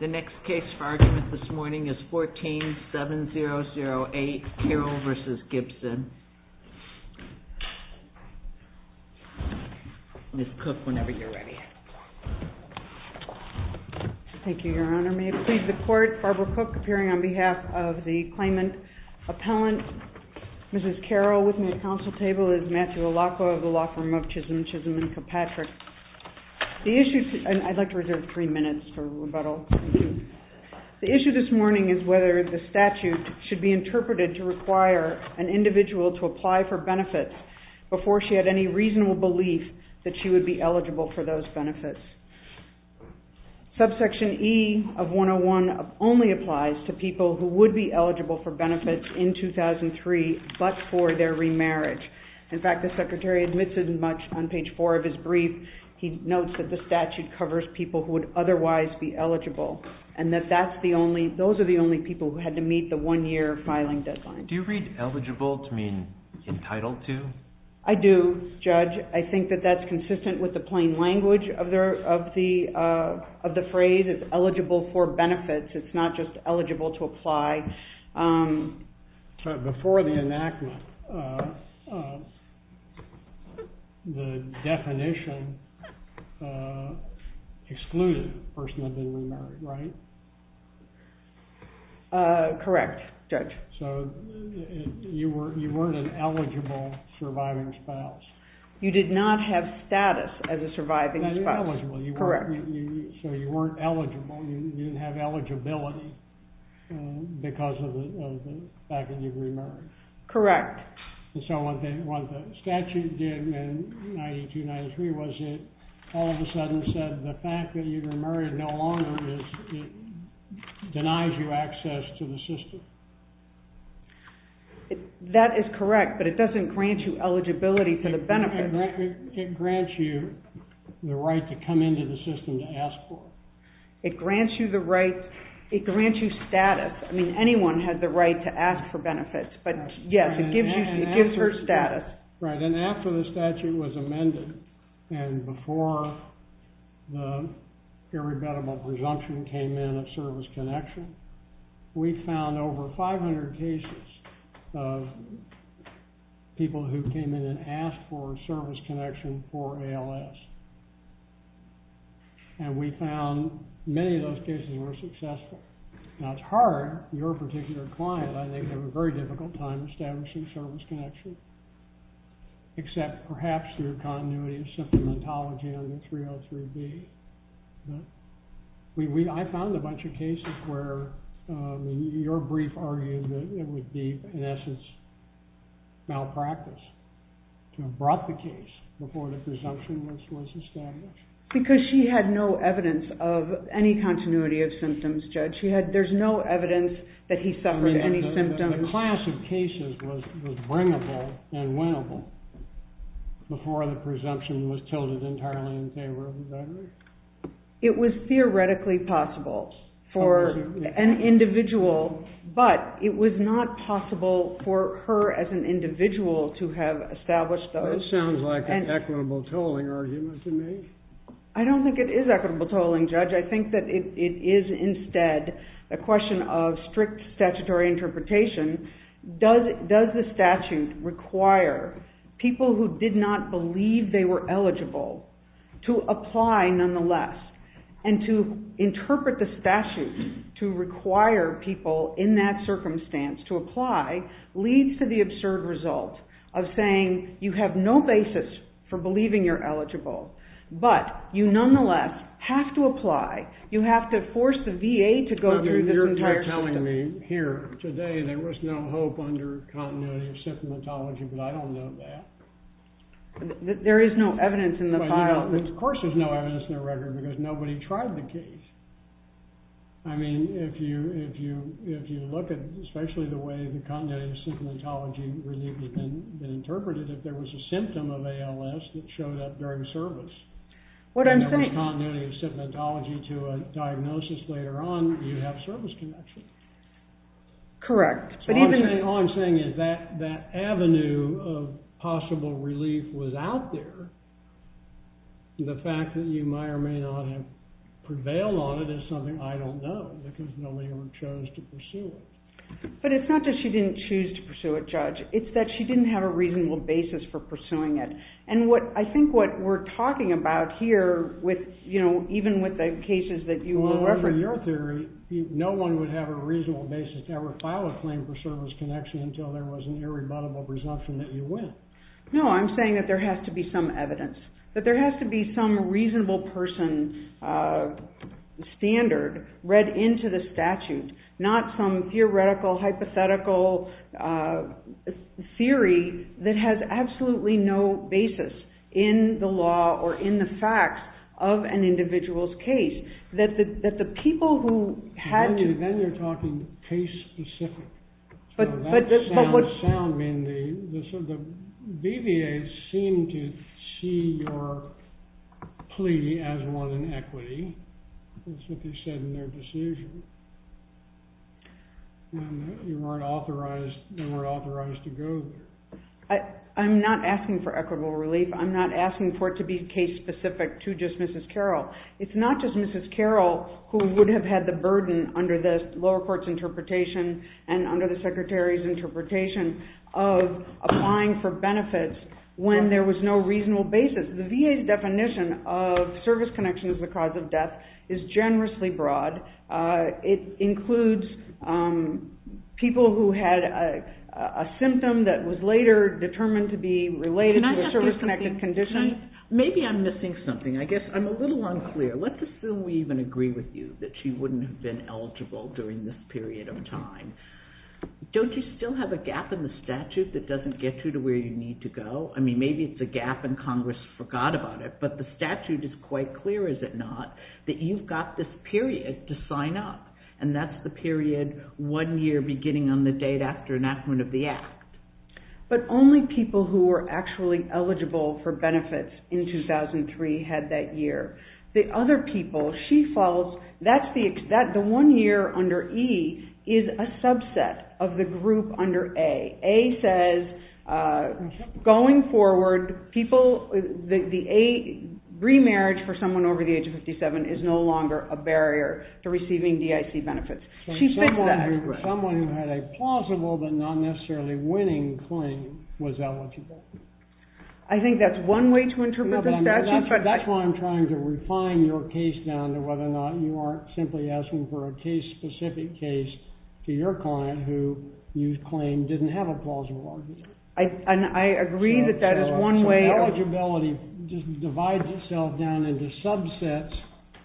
the next case for argument this morning is 147008 Carroll v. Gibson. Ms. Cook, whenever you're ready. Thank you, Your Honor. May it please the Court, Barbara Cook appearing on behalf of the claimant Appellant Mrs. Carroll with me at the Council table is Matthew Alaco of the law firm of Chisholm Chisholm & Kilpatrick. The issue, and I'd like to reserve three minutes for rebuttal. The issue this morning is whether the statute should be interpreted to require an individual to apply for benefits before she had any reasonable belief that she would be eligible for those benefits. Subsection E of 101 only applies to people who would be eligible for benefits in 2003 but for their remarriage. In fact, the Secretary admits as much on page 4 of his brief. He notes that the statute covers people who would otherwise be eligible and that that's the only, those are the only people who had to meet the one-year filing deadline. Do you read eligible to mean entitled to? I do, Judge. I think that that's consistent with the plain language of the phrase. It's eligible for benefits. It's not just eligible to apply. Before the enactment, the definition excluded the person who had been remarried, right? Correct, Judge. So you weren't an eligible surviving spouse? You did not have status as a surviving spouse? Correct. So you weren't eligible, you didn't have eligibility because of the fact that you've remarried? Correct. So what the statute did in 92-93 was it all of a sudden said the fact that you've remarried no longer is it denies you access to the system? That is correct, but it doesn't grant you eligibility for the benefits. It grants you the right to come into the system to ask for it. It grants you the right, it grants you status. I mean, anyone has the right to ask for benefits, but yes, it gives her status. Right, and after the statute was amended and before the irreversible presumption came in of service connection, we found over 500 cases of people who came in and asked for service connection for ALS. And we found many of those cases were successful. Now, it's hard. Your particular client, I think, had a very difficult time establishing service connection, except perhaps through continuity of symptomatology under 303B. I found a bunch of cases where your brief argued that it would be, in essence, malpractice to have brought the case before the presumption was established. Because she had no evidence of any continuity of symptoms, Judge. There's no evidence that he suffered any symptoms. The class of cases was bringable and winnable before the presumption was tilted entirely in favor of the judge? It was theoretically possible for an individual, but it was not possible for her as an individual to have established those. That sounds like an equitable tolling argument to me. I don't think it is equitable tolling, Judge. I think that it is instead a question of strict statutory interpretation. Does the statute require people who did not believe they were eligible to apply, nonetheless? And to interpret the statute to require people in that circumstance to apply leads to the absurd result of saying you have no basis for believing you're eligible. But you nonetheless have to apply. You have to force the VA to go through this entire system. You're telling me here today there was no hope under continuity of symptomatology, but I don't know that. There is no evidence in the file. Of course there's no evidence in the record, because nobody tried the case. I mean, if you look at especially the way the continuity of symptomatology relief had been interpreted, if there was a symptom of ALS that showed up during service, and there was continuity of symptomatology to a diagnosis later on, you'd have service connections. Correct. All I'm saying is that avenue of possible relief was out there. The fact that you may or may not have prevailed on it is something I don't know, because nobody ever chose to pursue it. But it's not that she didn't choose to pursue it, Judge. It's that she didn't have a reasonable basis for pursuing it. And I think what we're talking about here, even with the cases that you will ever— until there was an irrebuttable presumption that you win. No, I'm saying that there has to be some evidence, that there has to be some reasonable person standard read into the statute, not some theoretical hypothetical theory that has absolutely no basis in the law or in the facts of an individual's case. That the people who had to— But what— The sound being the BVA seemed to see your plea as one in equity. That's what they said in their decision. And you weren't authorized to go there. I'm not asking for equitable relief. I'm not asking for it to be case-specific to just Mrs. Carroll. It's not just Mrs. Carroll who would have had the burden under the lower court's interpretation and under the Secretary's interpretation of applying for benefits when there was no reasonable basis. The VA's definition of service connection as the cause of death is generously broad. It includes people who had a symptom that was later determined to be related to a service-connected condition. Maybe I'm missing something. I guess I'm a little unclear. Let's assume we even agree with you that she wouldn't have been eligible during this period of time. Don't you still have a gap in the statute that doesn't get you to where you need to go? I mean, maybe it's a gap and Congress forgot about it, but the statute is quite clear, is it not, that you've got this period to sign up, and that's the period one year beginning on the date after enactment of the Act. But only people who were actually eligible for benefits in 2003 had that year. The other people she follows, the one year under E is a subset of the group under A. A says, going forward, remarriage for someone over the age of 57 is no longer a barrier to receiving DIC benefits. She said that. Someone who had a plausible but not necessarily winning claim was eligible. I think that's one way to interpret the statute. That's why I'm trying to refine your case down to whether or not you aren't simply asking for a case-specific case to your client who you claim didn't have a plausible eligibility. I agree that that is one way. Eligibility just divides itself down into subsets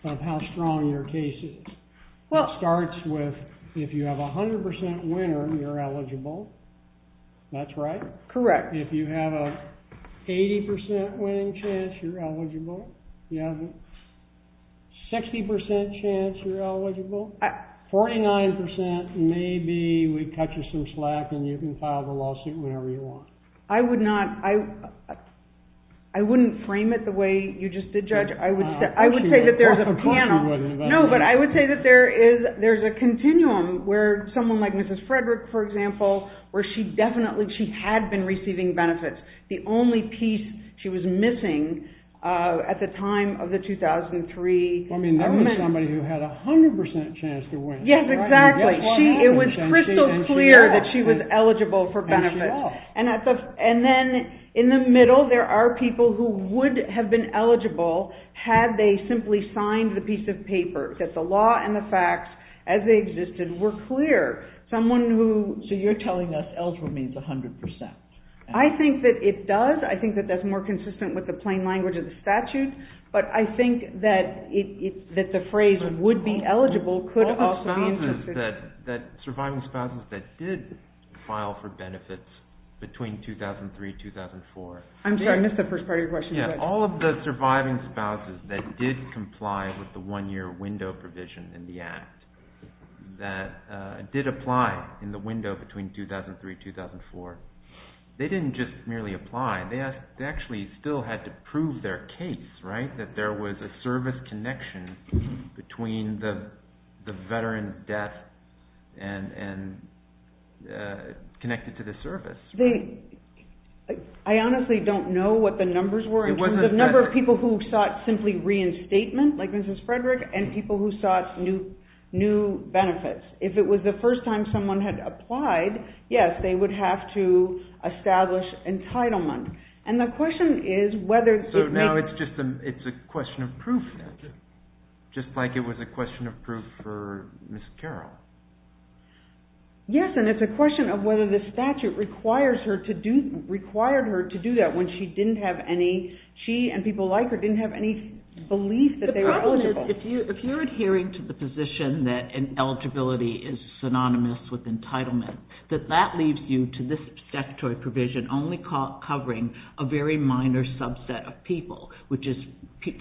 of how strong your case is. It starts with if you have a 100% winner, you're eligible. That's right? Correct. If you have an 80% winning chance, you're eligible. You have a 60% chance you're eligible. 49% maybe we cut you some slack and you can file the lawsuit whenever you want. I wouldn't frame it the way you just did, Judge. I would say that there's a continuum where someone like Mrs. Frederick, for example, where she definitely had been receiving benefits. The only piece she was missing at the time of the 2003... That was somebody who had a 100% chance to win. Yes, exactly. It was crystal clear that she was eligible for benefits. Then in the middle, there are people who would have been eligible had they simply signed the piece of paper, that the law and the facts as they existed were clear. Someone who... So you're telling us eligible means 100%. I think that it does. I think that that's more consistent with the plain language of the statute, but I think that the phrase would be eligible could also be... All of the surviving spouses that did file for benefits between 2003-2004... I'm sorry, I missed the first part of your question. All of the surviving spouses that did comply with the one-year window provision in the Act that did apply in the window between 2003-2004, they didn't just merely apply. They actually still had to prove their case, right, that there was a service connection between the veteran's death and connected to the service. I honestly don't know what the numbers were in terms of the number of people who sought simply reinstatement, like Mrs. Frederick, and people who sought new benefits. If it was the first time someone had applied, yes, they would have to establish entitlement. So now it's just a question of proof, just like it was a question of proof for Ms. Carroll. Yes, and it's a question of whether the statute required her to do that when she and people like her didn't have any belief that they were eligible. The problem is if you're adhering to the position that eligibility is synonymous with entitlement, that that leaves you to this statutory provision only covering a very minor subset of people, which is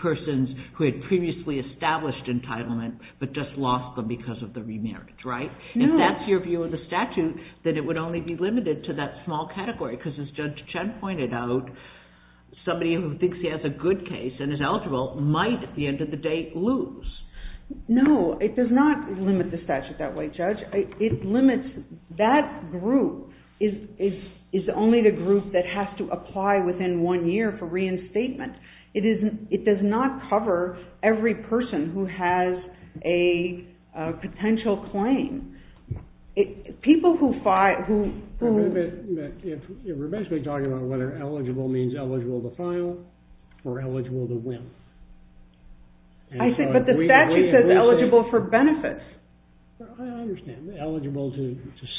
persons who had previously established entitlement but just lost them because of the remarriage, right? If that's your view of the statute, then it would only be limited to that small category because, as Judge Chen pointed out, somebody who thinks he has a good case and is eligible might, at the end of the day, lose. No, it does not limit the statute that way, Judge. That group is only the group that has to apply within one year for reinstatement. It does not cover every person who has a potential claim. We're basically talking about whether eligible means eligible to file or eligible to win. But the statute says eligible for benefits. I understand. Eligible to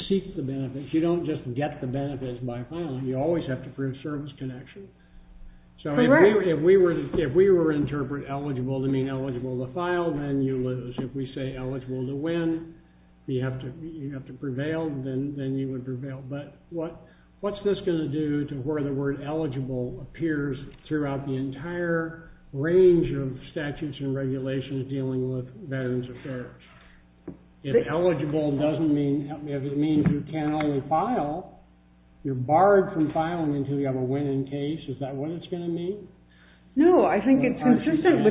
seek the benefits. You don't just get the benefits by filing. You always have to prove service connection. If we were to interpret eligible to mean eligible to file, then you lose. If we say eligible to win, you have to prevail, then you would prevail. But what's this going to do to where the word eligible appears throughout the entire range of statutes and regulations dealing with veterans affairs? If eligible means you can only file, you're barred from filing until you have a winning case. Is that what it's going to mean? No, I think it's consistent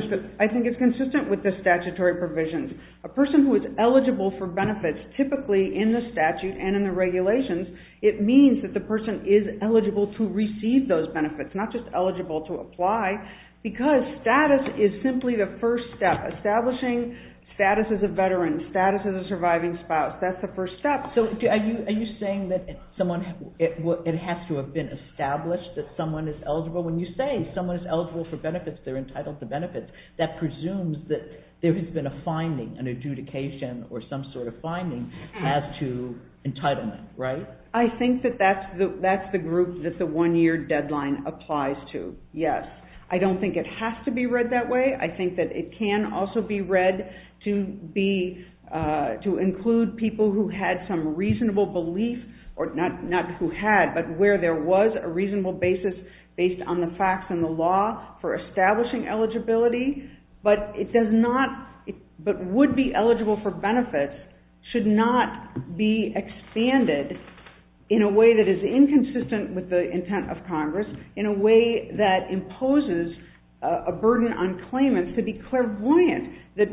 with the statutory provisions. A person who is eligible for benefits, typically in the statute and in the regulations, it means that the person is eligible to receive those benefits, not just eligible to apply, because status is simply the first step. Establishing status as a veteran, status as a surviving spouse, that's the first step. Are you saying that it has to have been established that someone is eligible? When you say someone is eligible for benefits, they're entitled to benefits, that presumes that there has been a finding, an adjudication or some sort of finding as to entitlement, right? I think that that's the group that the one-year deadline applies to, yes. I don't think it has to be read that way. I think that it can also be read to include people who had some reasonable belief, not who had, but where there was a reasonable basis based on the facts and the law for establishing eligibility, but would be eligible for benefits should not be expanded in a way that is inconsistent with the intent of Congress, in a way that imposes a burden on claimants to be clairvoyant that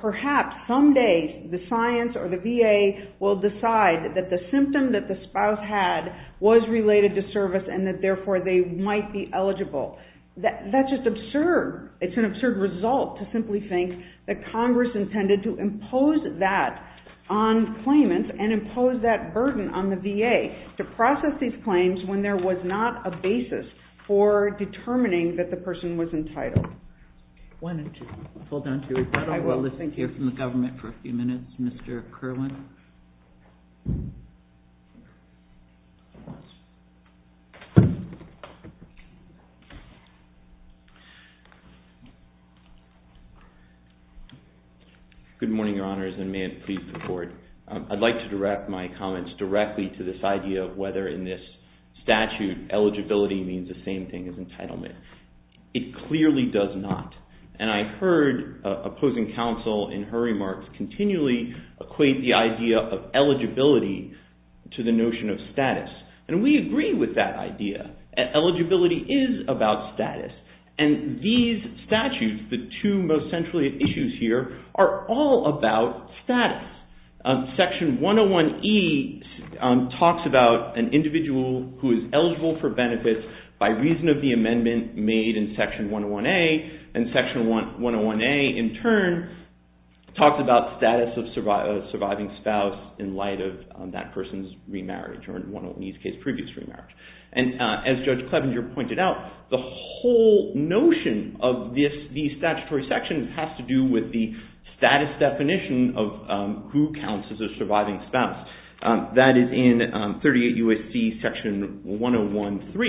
perhaps someday the science or the VA will decide that the symptom that the spouse had was related to service and that therefore they might be eligible. That's just absurd. It's an absurd result to simply think that Congress intended to impose that on claimants and impose that burden on the VA to process these claims when there was not a basis for determining that the person was entitled. Why don't you hold on to your title. I will. We'll listen to you from the government for a few minutes, Mr. Kerwin. Good morning, Your Honors, and may it please the Court. I'd like to direct my comments directly to this idea of whether in this statute, eligibility means the same thing as entitlement. It clearly does not, and I heard opposing counsel in her remarks continually equate the idea of eligibility to the notion of status, and we agree with that idea. Eligibility is about status, and these statutes, the two most central issues here, are all about status. Section 101E talks about an individual who is eligible for benefits by reason of the amendment made in Section 101A, and Section 101A, in turn, talks about status of surviving spouse in light of that person's remarriage, or in these cases, previous remarriage. And as Judge Klebinger pointed out, the whole notion of the statutory section has to do with the status definition of who counts as a surviving spouse. That is in 38 U.S.C. Section 101.3,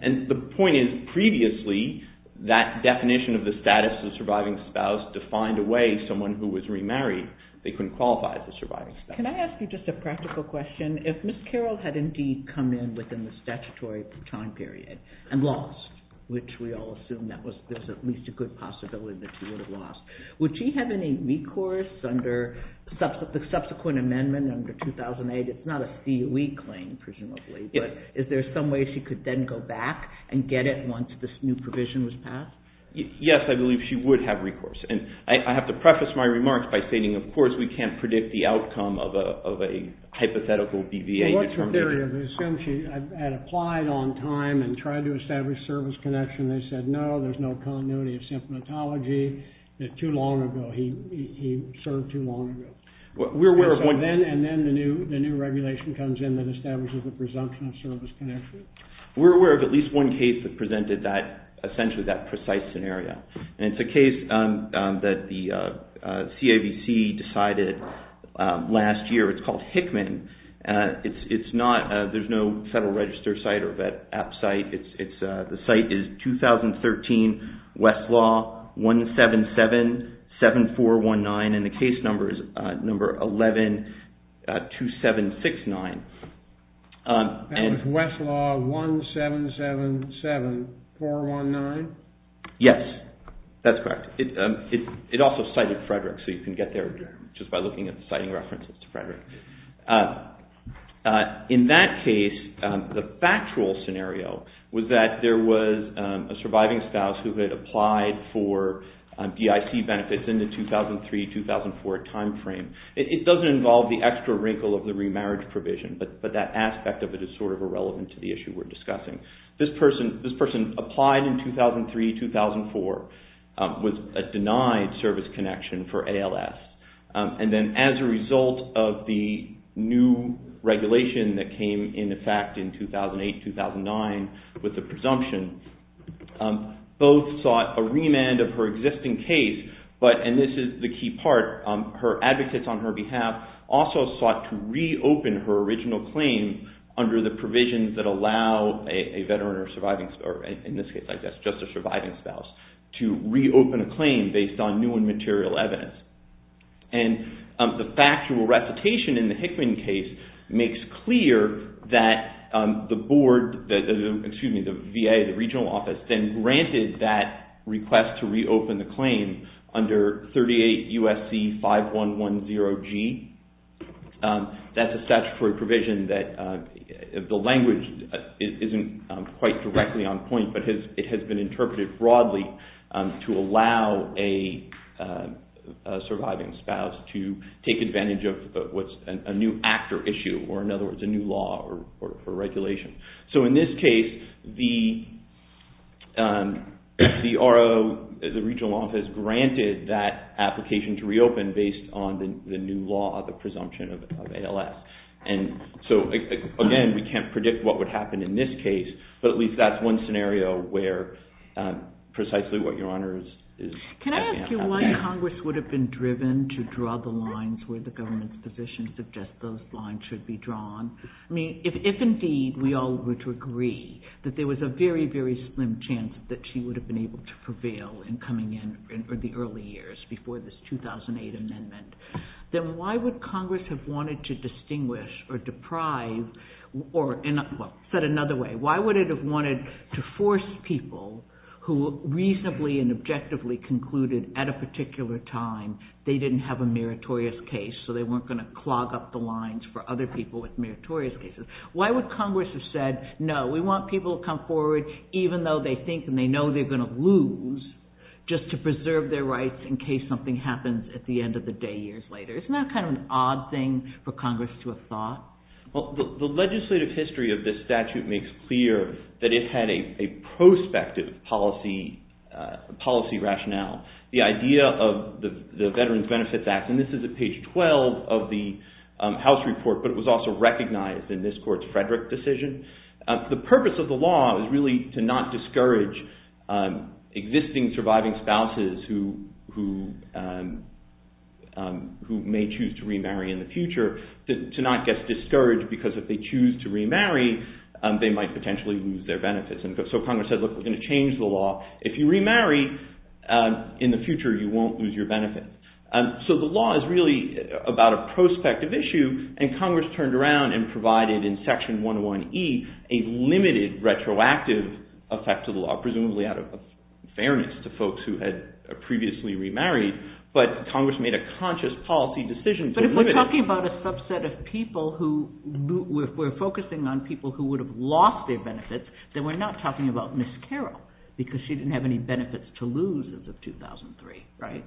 and the point is, previously, that definition of the status of surviving spouse defined a way someone who was remarried, they couldn't qualify as a surviving spouse. Can I ask you just a practical question? If Ms. Carroll had indeed come in within the statutory time period and lost, which we all assume there's at least a good possibility that she would have lost, would she have any recourse under the subsequent amendment under 2008? It's not a COE claim, presumably, but is there some way she could then go back and get it once this new provision was passed? Yes, I believe she would have recourse. And I have to preface my remarks by stating, of course, we can't predict the outcome of a hypothetical BVA determination. Well, what's the theory? They assume she had applied on time and tried to establish service connection. They said, no, there's no continuity of symptomatology. Too long ago. He served too long ago. And then the new regulation comes in that establishes the presumption of service connection. We're aware of at least one case that presented essentially that precise scenario. And it's a case that the CAVC decided last year. It's called Hickman. There's no Federal Register site or vet app site. The site is 2013 Westlaw 1777419 and the case number is number 112769. That was Westlaw 1777419? Yes, that's correct. It also cited Frederick, so you can get there just by looking at the citing references to Frederick. In that case, the factual scenario was that there was a surviving spouse who had applied for DIC benefits in the 2003-2004 time frame. It doesn't involve the extra wrinkle of the remarriage provision, but that aspect of it is sort of irrelevant to the issue we're discussing. This person applied in 2003-2004 with a denied service connection for ALS. And then as a result of the new regulation that came into effect in 2008-2009 with the presumption, both sought a remand of her existing case, and this is the key part, her advocates on her behalf also sought to reopen her original claim under the provisions that allow a veteran or surviving spouse, or in this case, I guess, just a surviving spouse, to reopen a claim based on new and material evidence. And the factual recitation in the Hickman case makes clear that the board, excuse me, the VA, the regional office, then granted that request to reopen the claim under 38 U.S.C. 5110G. That's a statutory provision that the language isn't quite directly on point, but it has been interpreted broadly to allow a surviving spouse to take advantage of what's a new act or issue, or in other words, a new law or regulation. So in this case, the RO, the regional office, granted that application to reopen based on the new law, the presumption of ALS. And so, again, we can't predict what would happen in this case, but at least that's one scenario where precisely what Your Honor is asking about. Can I ask you why Congress would have been driven to draw the lines where the government's position suggests those lines should be drawn? I mean, if indeed we all were to agree that there was a very, very slim chance that she would have been able to prevail in coming in in the early years before this 2008 amendment, then why would Congress have wanted to distinguish or deprive or, well, said another way, why would it have wanted to force people who reasonably and objectively concluded at a particular time they didn't have a meritorious case so they weren't going to clog up the lines for other people with meritorious cases? Why would Congress have said, no, we want people to come forward even though they think and they know they're going to lose just to preserve their rights in case something happens at the end of the day years later? Isn't that kind of an odd thing for Congress to have thought? Well, the legislative history of this statute makes clear that it had a prospective policy rationale. The idea of the Veterans Benefits Act, and this is at page 12 of the House report, but it was also recognized in this court's Frederick decision. The purpose of the law is really to not discourage existing surviving spouses who may choose to remarry in the future to not get discouraged because if they choose to remarry they might potentially lose their benefits. So Congress said, look, we're going to change the law. If you remarry, in the future you won't lose your benefits. So the law is really about a prospective issue and Congress turned around and provided in section 101E a limited retroactive effect to the law, presumably out of fairness to folks who had previously remarried, but Congress made a conscious policy decision to limit it. But if we're talking about a subset of people who were focusing on people who would have lost their benefits, then we're not talking about Ms. Carroll because she didn't have any benefits to lose as of 2003, right?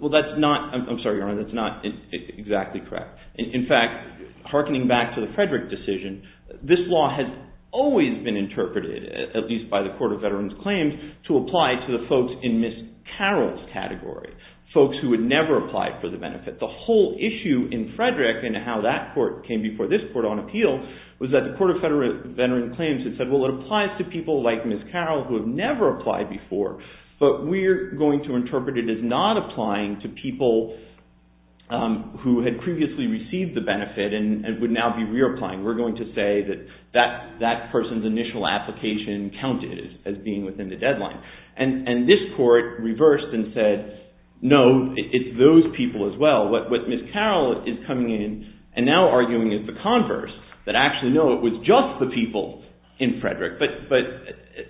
Well, that's not, I'm sorry, Your Honor, that's not exactly correct. In fact, hearkening back to the Frederick decision, this law has always been interpreted, at least by the Court of Veterans Claims, to apply to the folks in Ms. Carroll's category, folks who had never applied for the benefit. The whole issue in Frederick and how that court came before this court on appeal was that the Court of Veterans Claims had said, well, it applies to people like Ms. Carroll who have never applied before, but we're going to interpret it as not applying to people who had previously received the benefit and would now be reapplying. We're going to say that that person's initial application counted as being within the deadline. And this court reversed and said, no, it's those people as well. What Ms. Carroll is coming in and now arguing is the converse, that actually, no, it was just the people in Frederick. But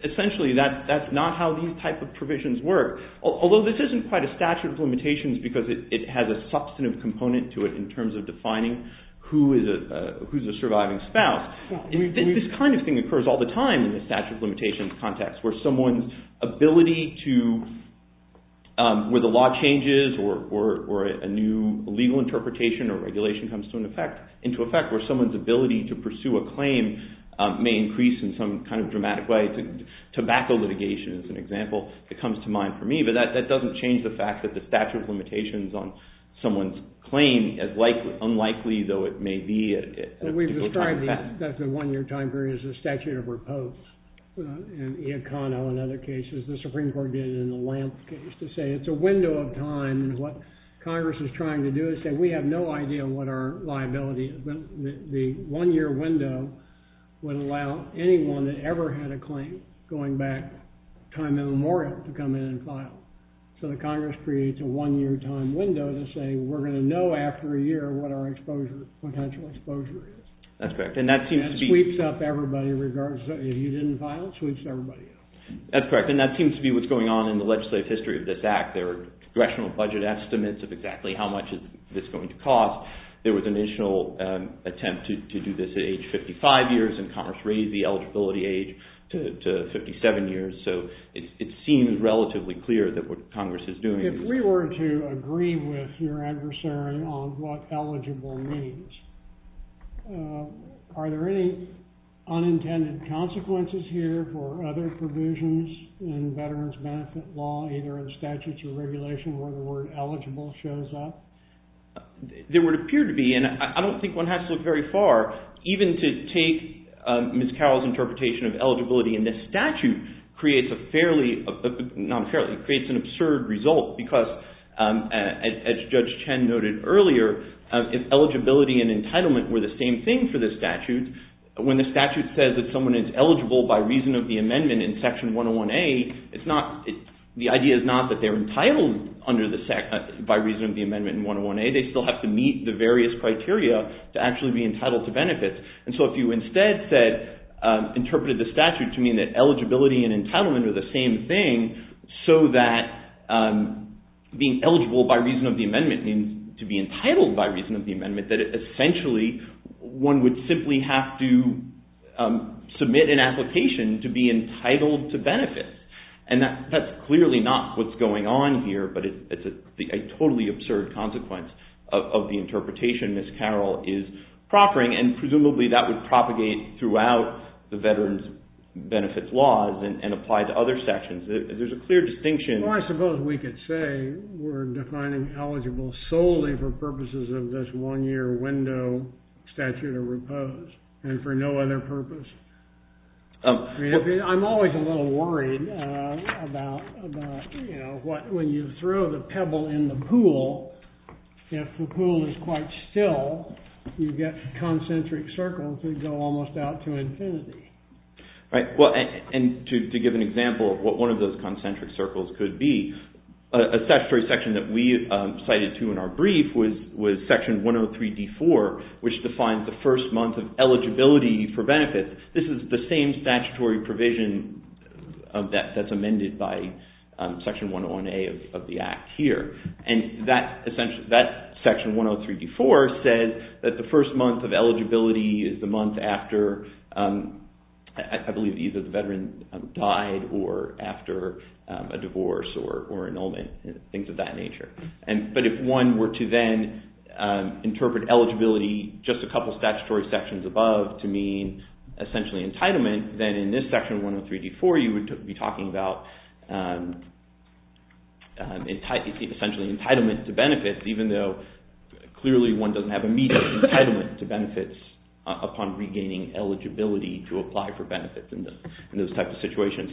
essentially, that's not how these types of provisions work. Although this isn't quite a statute of limitations because it has a substantive component to it in terms of defining who is a surviving spouse. This kind of thing occurs all the time in the statute of limitations context where someone's ability to, where the law changes or a new legal interpretation or regulation comes into effect where someone's ability to pursue a claim may increase in some kind of dramatic way. Tobacco litigation is an example that comes to mind for me, but that doesn't change the fact that the statute of limitations on someone's claim is unlikely, though it may be at a particular time. We've described the one-year time period as a statute of repose. In Iacono and other cases, the Supreme Court did it in the Lamp case to say it's a window of time. What Congress is trying to do is say we have no idea what our liability is. The one-year window would allow anyone that ever had a claim going back time immemorial to come in and file. So the Congress creates a one-year time window to say we're going to know after a year what our potential exposure is. That's correct. That sweeps up everybody regardless. If you didn't file, it sweeps everybody up. That's correct, and that seems to be what's going on in the legislative history of this Act. There are congressional budget estimates of exactly how much this is going to cost. There was an initial attempt to do this at age 55 years and Congress raised the eligibility age to 57 years, so it seems relatively clear that what Congress is doing is... If we were to agree with your adversary on what eligible means, are there any unintended consequences here for other provisions in veterans' benefit law, either in statutes or regulation where the word eligible shows up? There would appear to be, and I don't think one has to look very far, even to take Ms. Carroll's interpretation of eligibility in this statute creates an absurd result because as Judge Chen noted earlier, if eligibility and entitlement were the same thing for the statute, when the statute says that someone is eligible by reason of the amendment in Section 101A, the idea is not that they're entitled by reason of the amendment in 101A. They still have to meet the various criteria to actually be entitled to benefits. So if you instead interpreted the statute to mean that eligibility and entitlement are the same thing, so that being eligible by reason of the amendment means to be entitled by reason of the amendment, that essentially one would simply have to submit an application to be entitled to benefits. That's clearly not what's going on here, but it's a totally absurd consequence of the interpretation that Ms. Carroll is proffering, and presumably that would propagate throughout the veterans' benefits laws and apply to other sections. There's a clear distinction. Well, I suppose we could say we're defining eligible solely for purposes of this one-year window statute of repose and for no other purpose. I'm always a little worried about when you throw the pebble in the pool if the pool is quite still, you get concentric circles that go almost out to infinity. Right. To give an example of what one of those concentric circles could be, a statutory section that we cited to in our brief was section 103D4, which defines the first month of eligibility for benefits. This is the same statutory provision that's amended by section 101A of the Act here. That section 103D4 says that the first month of eligibility is the month after I believe either the veteran died or after a divorce or annulment, things of that nature. But if one were to then interpret eligibility just a couple of statutory sections above to mean essentially entitlement, then in this section 103D4 you would be talking about essentially entitlement to benefits even though clearly one doesn't have immediate entitlement to benefits upon regaining eligibility to apply for benefits in those types of situations.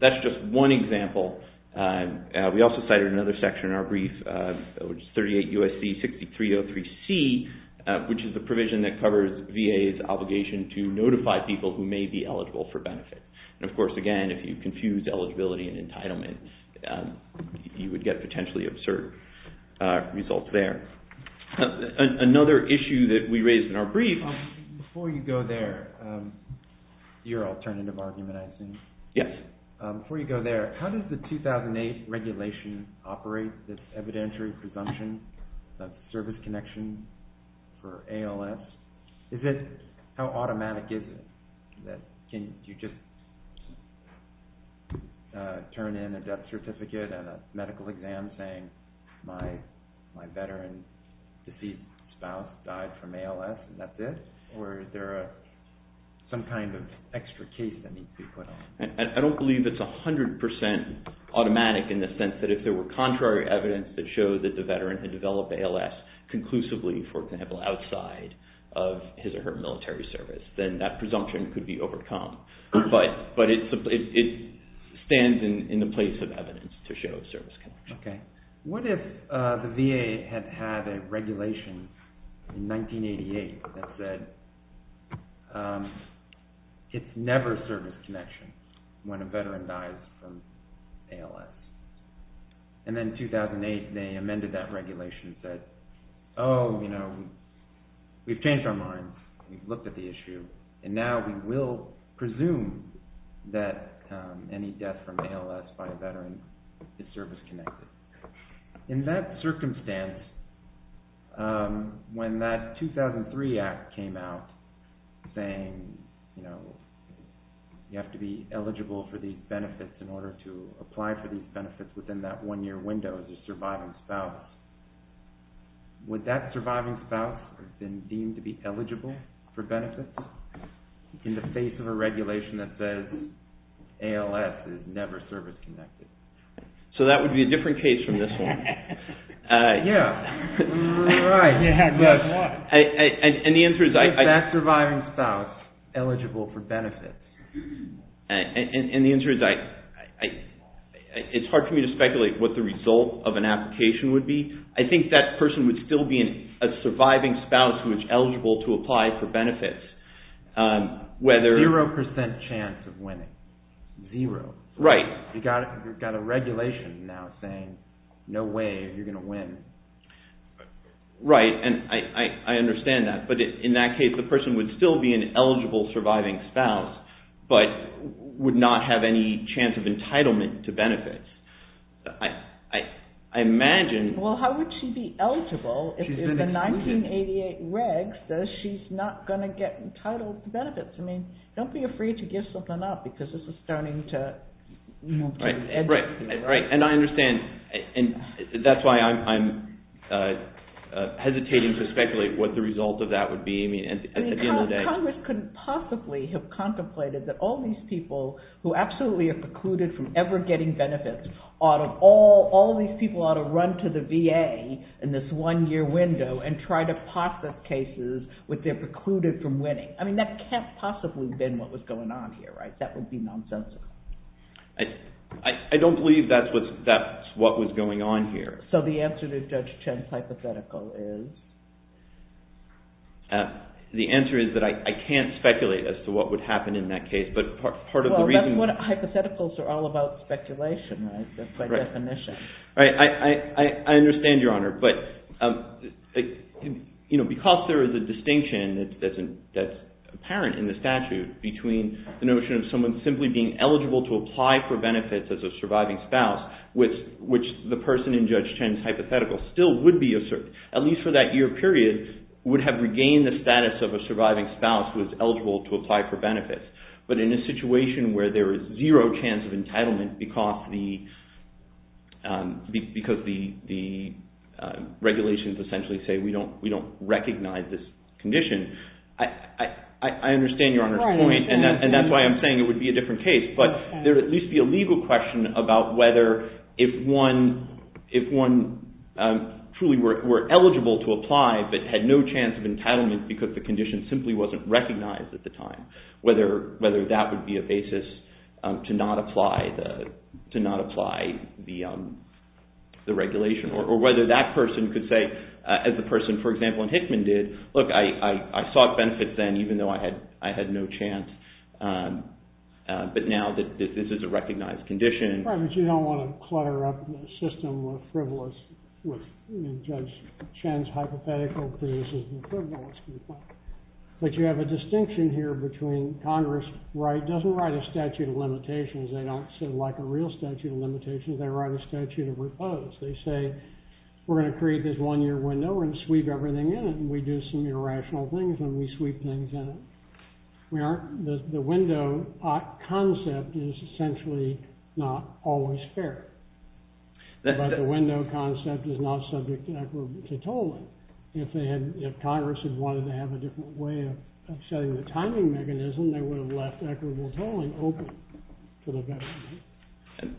That's just one example. We also cited another section in our brief, which is 38 U.S.C. 6303C, which is the provision that covers VA's obligation to notify people who may be eligible for benefits. Of course, again, if you confuse eligibility and entitlement, you would get potentially absurd results there. Another issue that we raised in our brief... Before you go there, your alternative argument I assume. Yes. Before you go there, how does the 2008 regulation operate this evidentiary presumption of service connection for ALS? How automatic is it? Can you just turn in a death certificate and a medical exam saying my veteran deceased spouse died from ALS and that's it? Or is there some kind of extra case that needs to be put on? I don't believe it's 100% automatic in the sense that if there were contrary evidence that showed that the veteran had developed ALS conclusively for example outside of his or her military service, then that presumption could be overcome. But it stands in the place of evidence to show service connection. What if the VA had had a regulation in 1988 that said it's never service connection when a veteran dies from ALS? And then in 2008, they amended that regulation and said we've changed our minds, we've looked at the issue, and now we will presume that any death from ALS by a veteran is service connected. In that circumstance, when that 2003 Act came out saying you have to be eligible for these benefits in order to apply for these benefits within that one year window as a surviving spouse, would that surviving spouse have been deemed to be eligible for benefits in the face of a regulation that says ALS is never service connected? So that would be a different case from this one. Yeah. Right. Is that surviving spouse eligible for benefits? And the answer is it's hard for me to speculate what the result of an application would be. I think that person would still be a surviving spouse who is eligible to apply for benefits. Zero percent chance of winning. Zero. You've got a regulation now saying no way you're going to win. Right, and I understand that. But in that case, the person would still be an eligible surviving spouse but would not have any chance of entitlement to benefits. I imagine... Well, how would she be eligible if the 1988 reg says she's not going to get entitled to benefits? I mean, don't be afraid to give something up because this is starting to... Right, and I understand. And that's why I'm hesitating to speculate what the result of that would be. I mean, at the end of the day... Congress couldn't possibly have contemplated that all these people who absolutely are precluded from ever getting benefits all of these people ought to run to the VA in this one-year window and try to process cases which they're precluded from winning. I mean, that can't possibly have been what was going on here, right? That would be nonsensical. I don't believe that's what was going on here. So the answer to Judge Chen's hypothetical is? The answer is that I can't speculate as to what would happen in that case. But part of the reason... Well, hypotheticals are all about speculation, right? I understand, Your Honor, but because there is a distinction that's apparent in the statute between the notion of someone simply being eligible to apply for benefits as a surviving spouse which the person in Judge Chen's hypothetical still would be at least for that year period would have regained the status of a surviving spouse who is eligible to apply for benefits. But in a situation where there is zero chance of entitlement because the regulations essentially say we don't recognize this condition I understand Your Honor's point. And that's why I'm saying it would be a different case. But there would at least be a legal question about whether if one truly were eligible to apply but had no chance of entitlement because the condition simply wasn't recognized at the time whether that would be a basis to not apply the regulation. Or whether that person could say, as the person for example in Hickman did look, I sought benefits then even though I had no chance but now this is a recognized condition. Right, but you don't want to clutter up the system of frivolous with Judge Chen's hypothetical because this is frivolous. But you have a distinction here between Congress doesn't write a statute of limitations they don't say like a real statute of limitations they write a statute of repose. They say we're going to create this one year window and sweep everything in it and we do some irrational things and we sweep things in it. The window concept is essentially not always fair. But the window concept is not subject to tolling. If Congress had wanted to have a different way of setting the timing mechanism they would have left equitable tolling open to the government.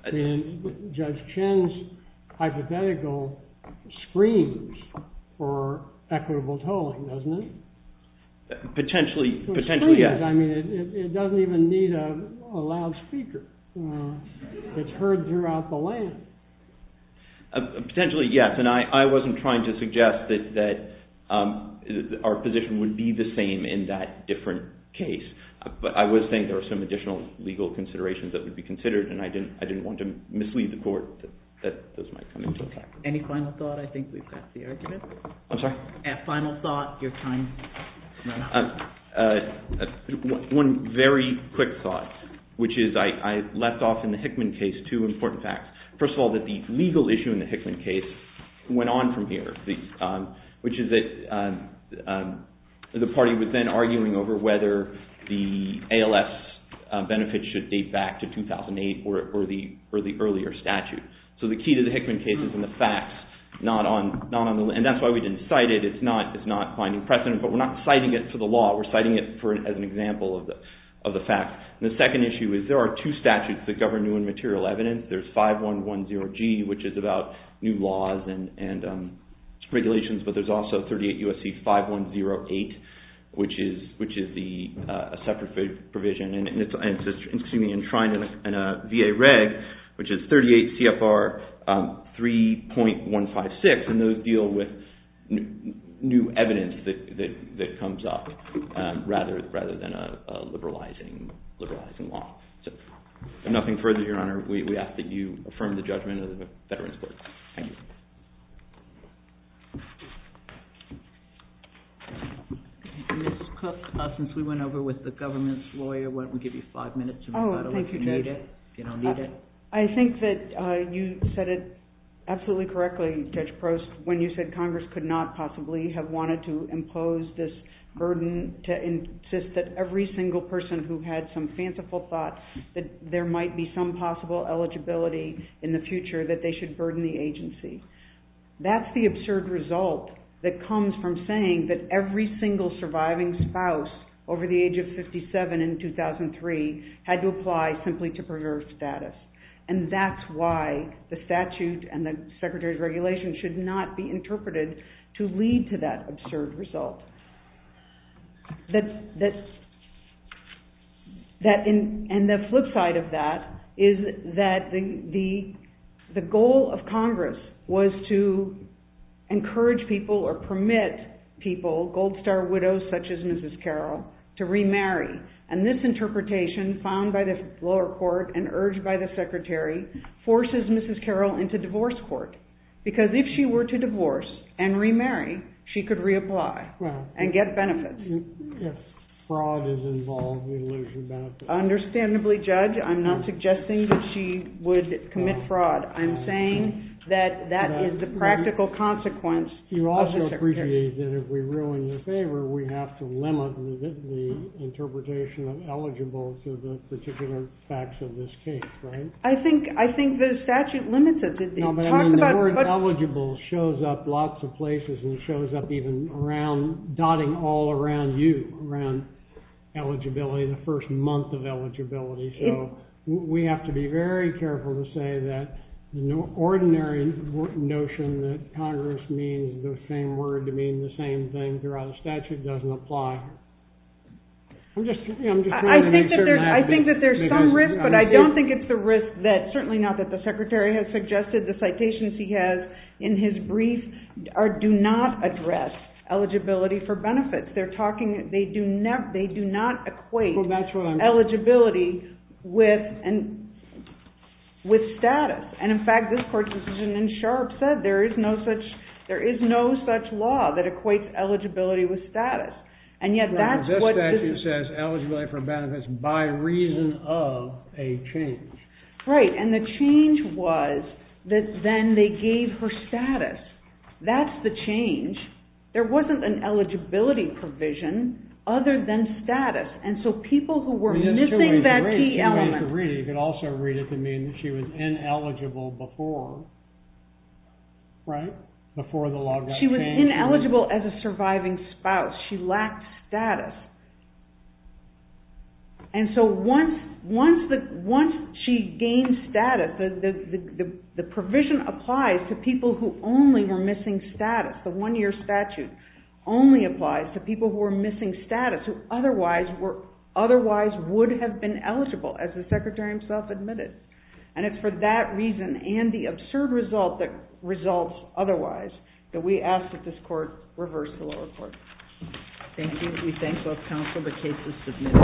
And Judge Chen's hypothetical screams for equitable tolling doesn't it? Potentially yes. It doesn't even need a loud speaker it's heard throughout the land. Potentially yes and I wasn't trying to suggest that our position would be the same in that different case but I was saying there are some additional legal considerations that would be considered and I didn't want to mislead the court that those might come into effect. One very quick thought which is I left off in the Hickman case two important facts. First of all that the legal issue in the Hickman case went on from here which is that the party was then arguing over whether the ALS benefits should date back to 2008 or the earlier statute. So the key to the Hickman case is in the facts and that's why we didn't cite it. It's not finding precedent but we're not citing it for the law. We're citing it as an example of the fact. The second issue is there are two statutes that govern new and material evidence. There's 5110G which is about new laws and regulations but there's also 38 USC 5108 which is a separate provision and a VA reg which is 38 CFR 3.156 and those deal with new evidence that comes up rather than a liberalizing law. So nothing further Your Honor we ask that you affirm the judgment of the veterans court. Thank you. Ms. Cook since we went over with the government's lawyer why don't we give you five minutes. I think that you said it absolutely correctly Judge Prost when you said Congress could not possibly have wanted to impose this burden to insist that every single person who had some fanciful thought that there might be some possible eligibility in the future that they should burden the agency. That's the absurd result that comes from saying that every single surviving spouse over the age of 57 in 2003 had to apply simply to preserve status and that's why the statute and the Secretary's regulation should not be interpreted to lead to that absurd result. And the flip side of that is that the goal of Congress was to encourage people or permit people, gold star widows such as Mrs. Carroll to remarry and this interpretation found by the lower court and urged by the Secretary forces Mrs. Carroll into divorce court because if she were to divorce and remarry she could reapply and get benefits. Understandably Judge I'm not suggesting that she would commit fraud. I'm saying that that is the practical consequence. You also appreciate that if we ruin your favor we have to limit the interpretation of eligible to the particular facts of this case, right? I think the statute limits it. The word eligible shows up lots of places and shows up even around, dotting all around you around eligibility, the first month of I'm careful to say that the ordinary notion that Congress means the same word to mean the same thing throughout the statute doesn't apply. I think that there's some risk but I don't think it's the risk that certainly not that the Secretary has suggested the citations he has in his brief do not address eligibility for benefits. They're talking they do not equate eligibility with status and in fact this court's decision in Sharpe said there is no such law that equates eligibility with status. This statute says eligibility for benefits by reason of a change. Right and the change was that then they gave her status. That's the change. There wasn't an eligibility provision other than missing that key element. You could also read it to mean she was ineligible before before the law got changed. She was ineligible as a surviving spouse. She lacked status. And so once she gained status the provision applies to people who only were missing status. The one year statute only applies to people who were missing status who otherwise would have been eligible as the Secretary himself admitted. And it's for that reason and the absurd result that results otherwise that we ask that this court reverse the law report.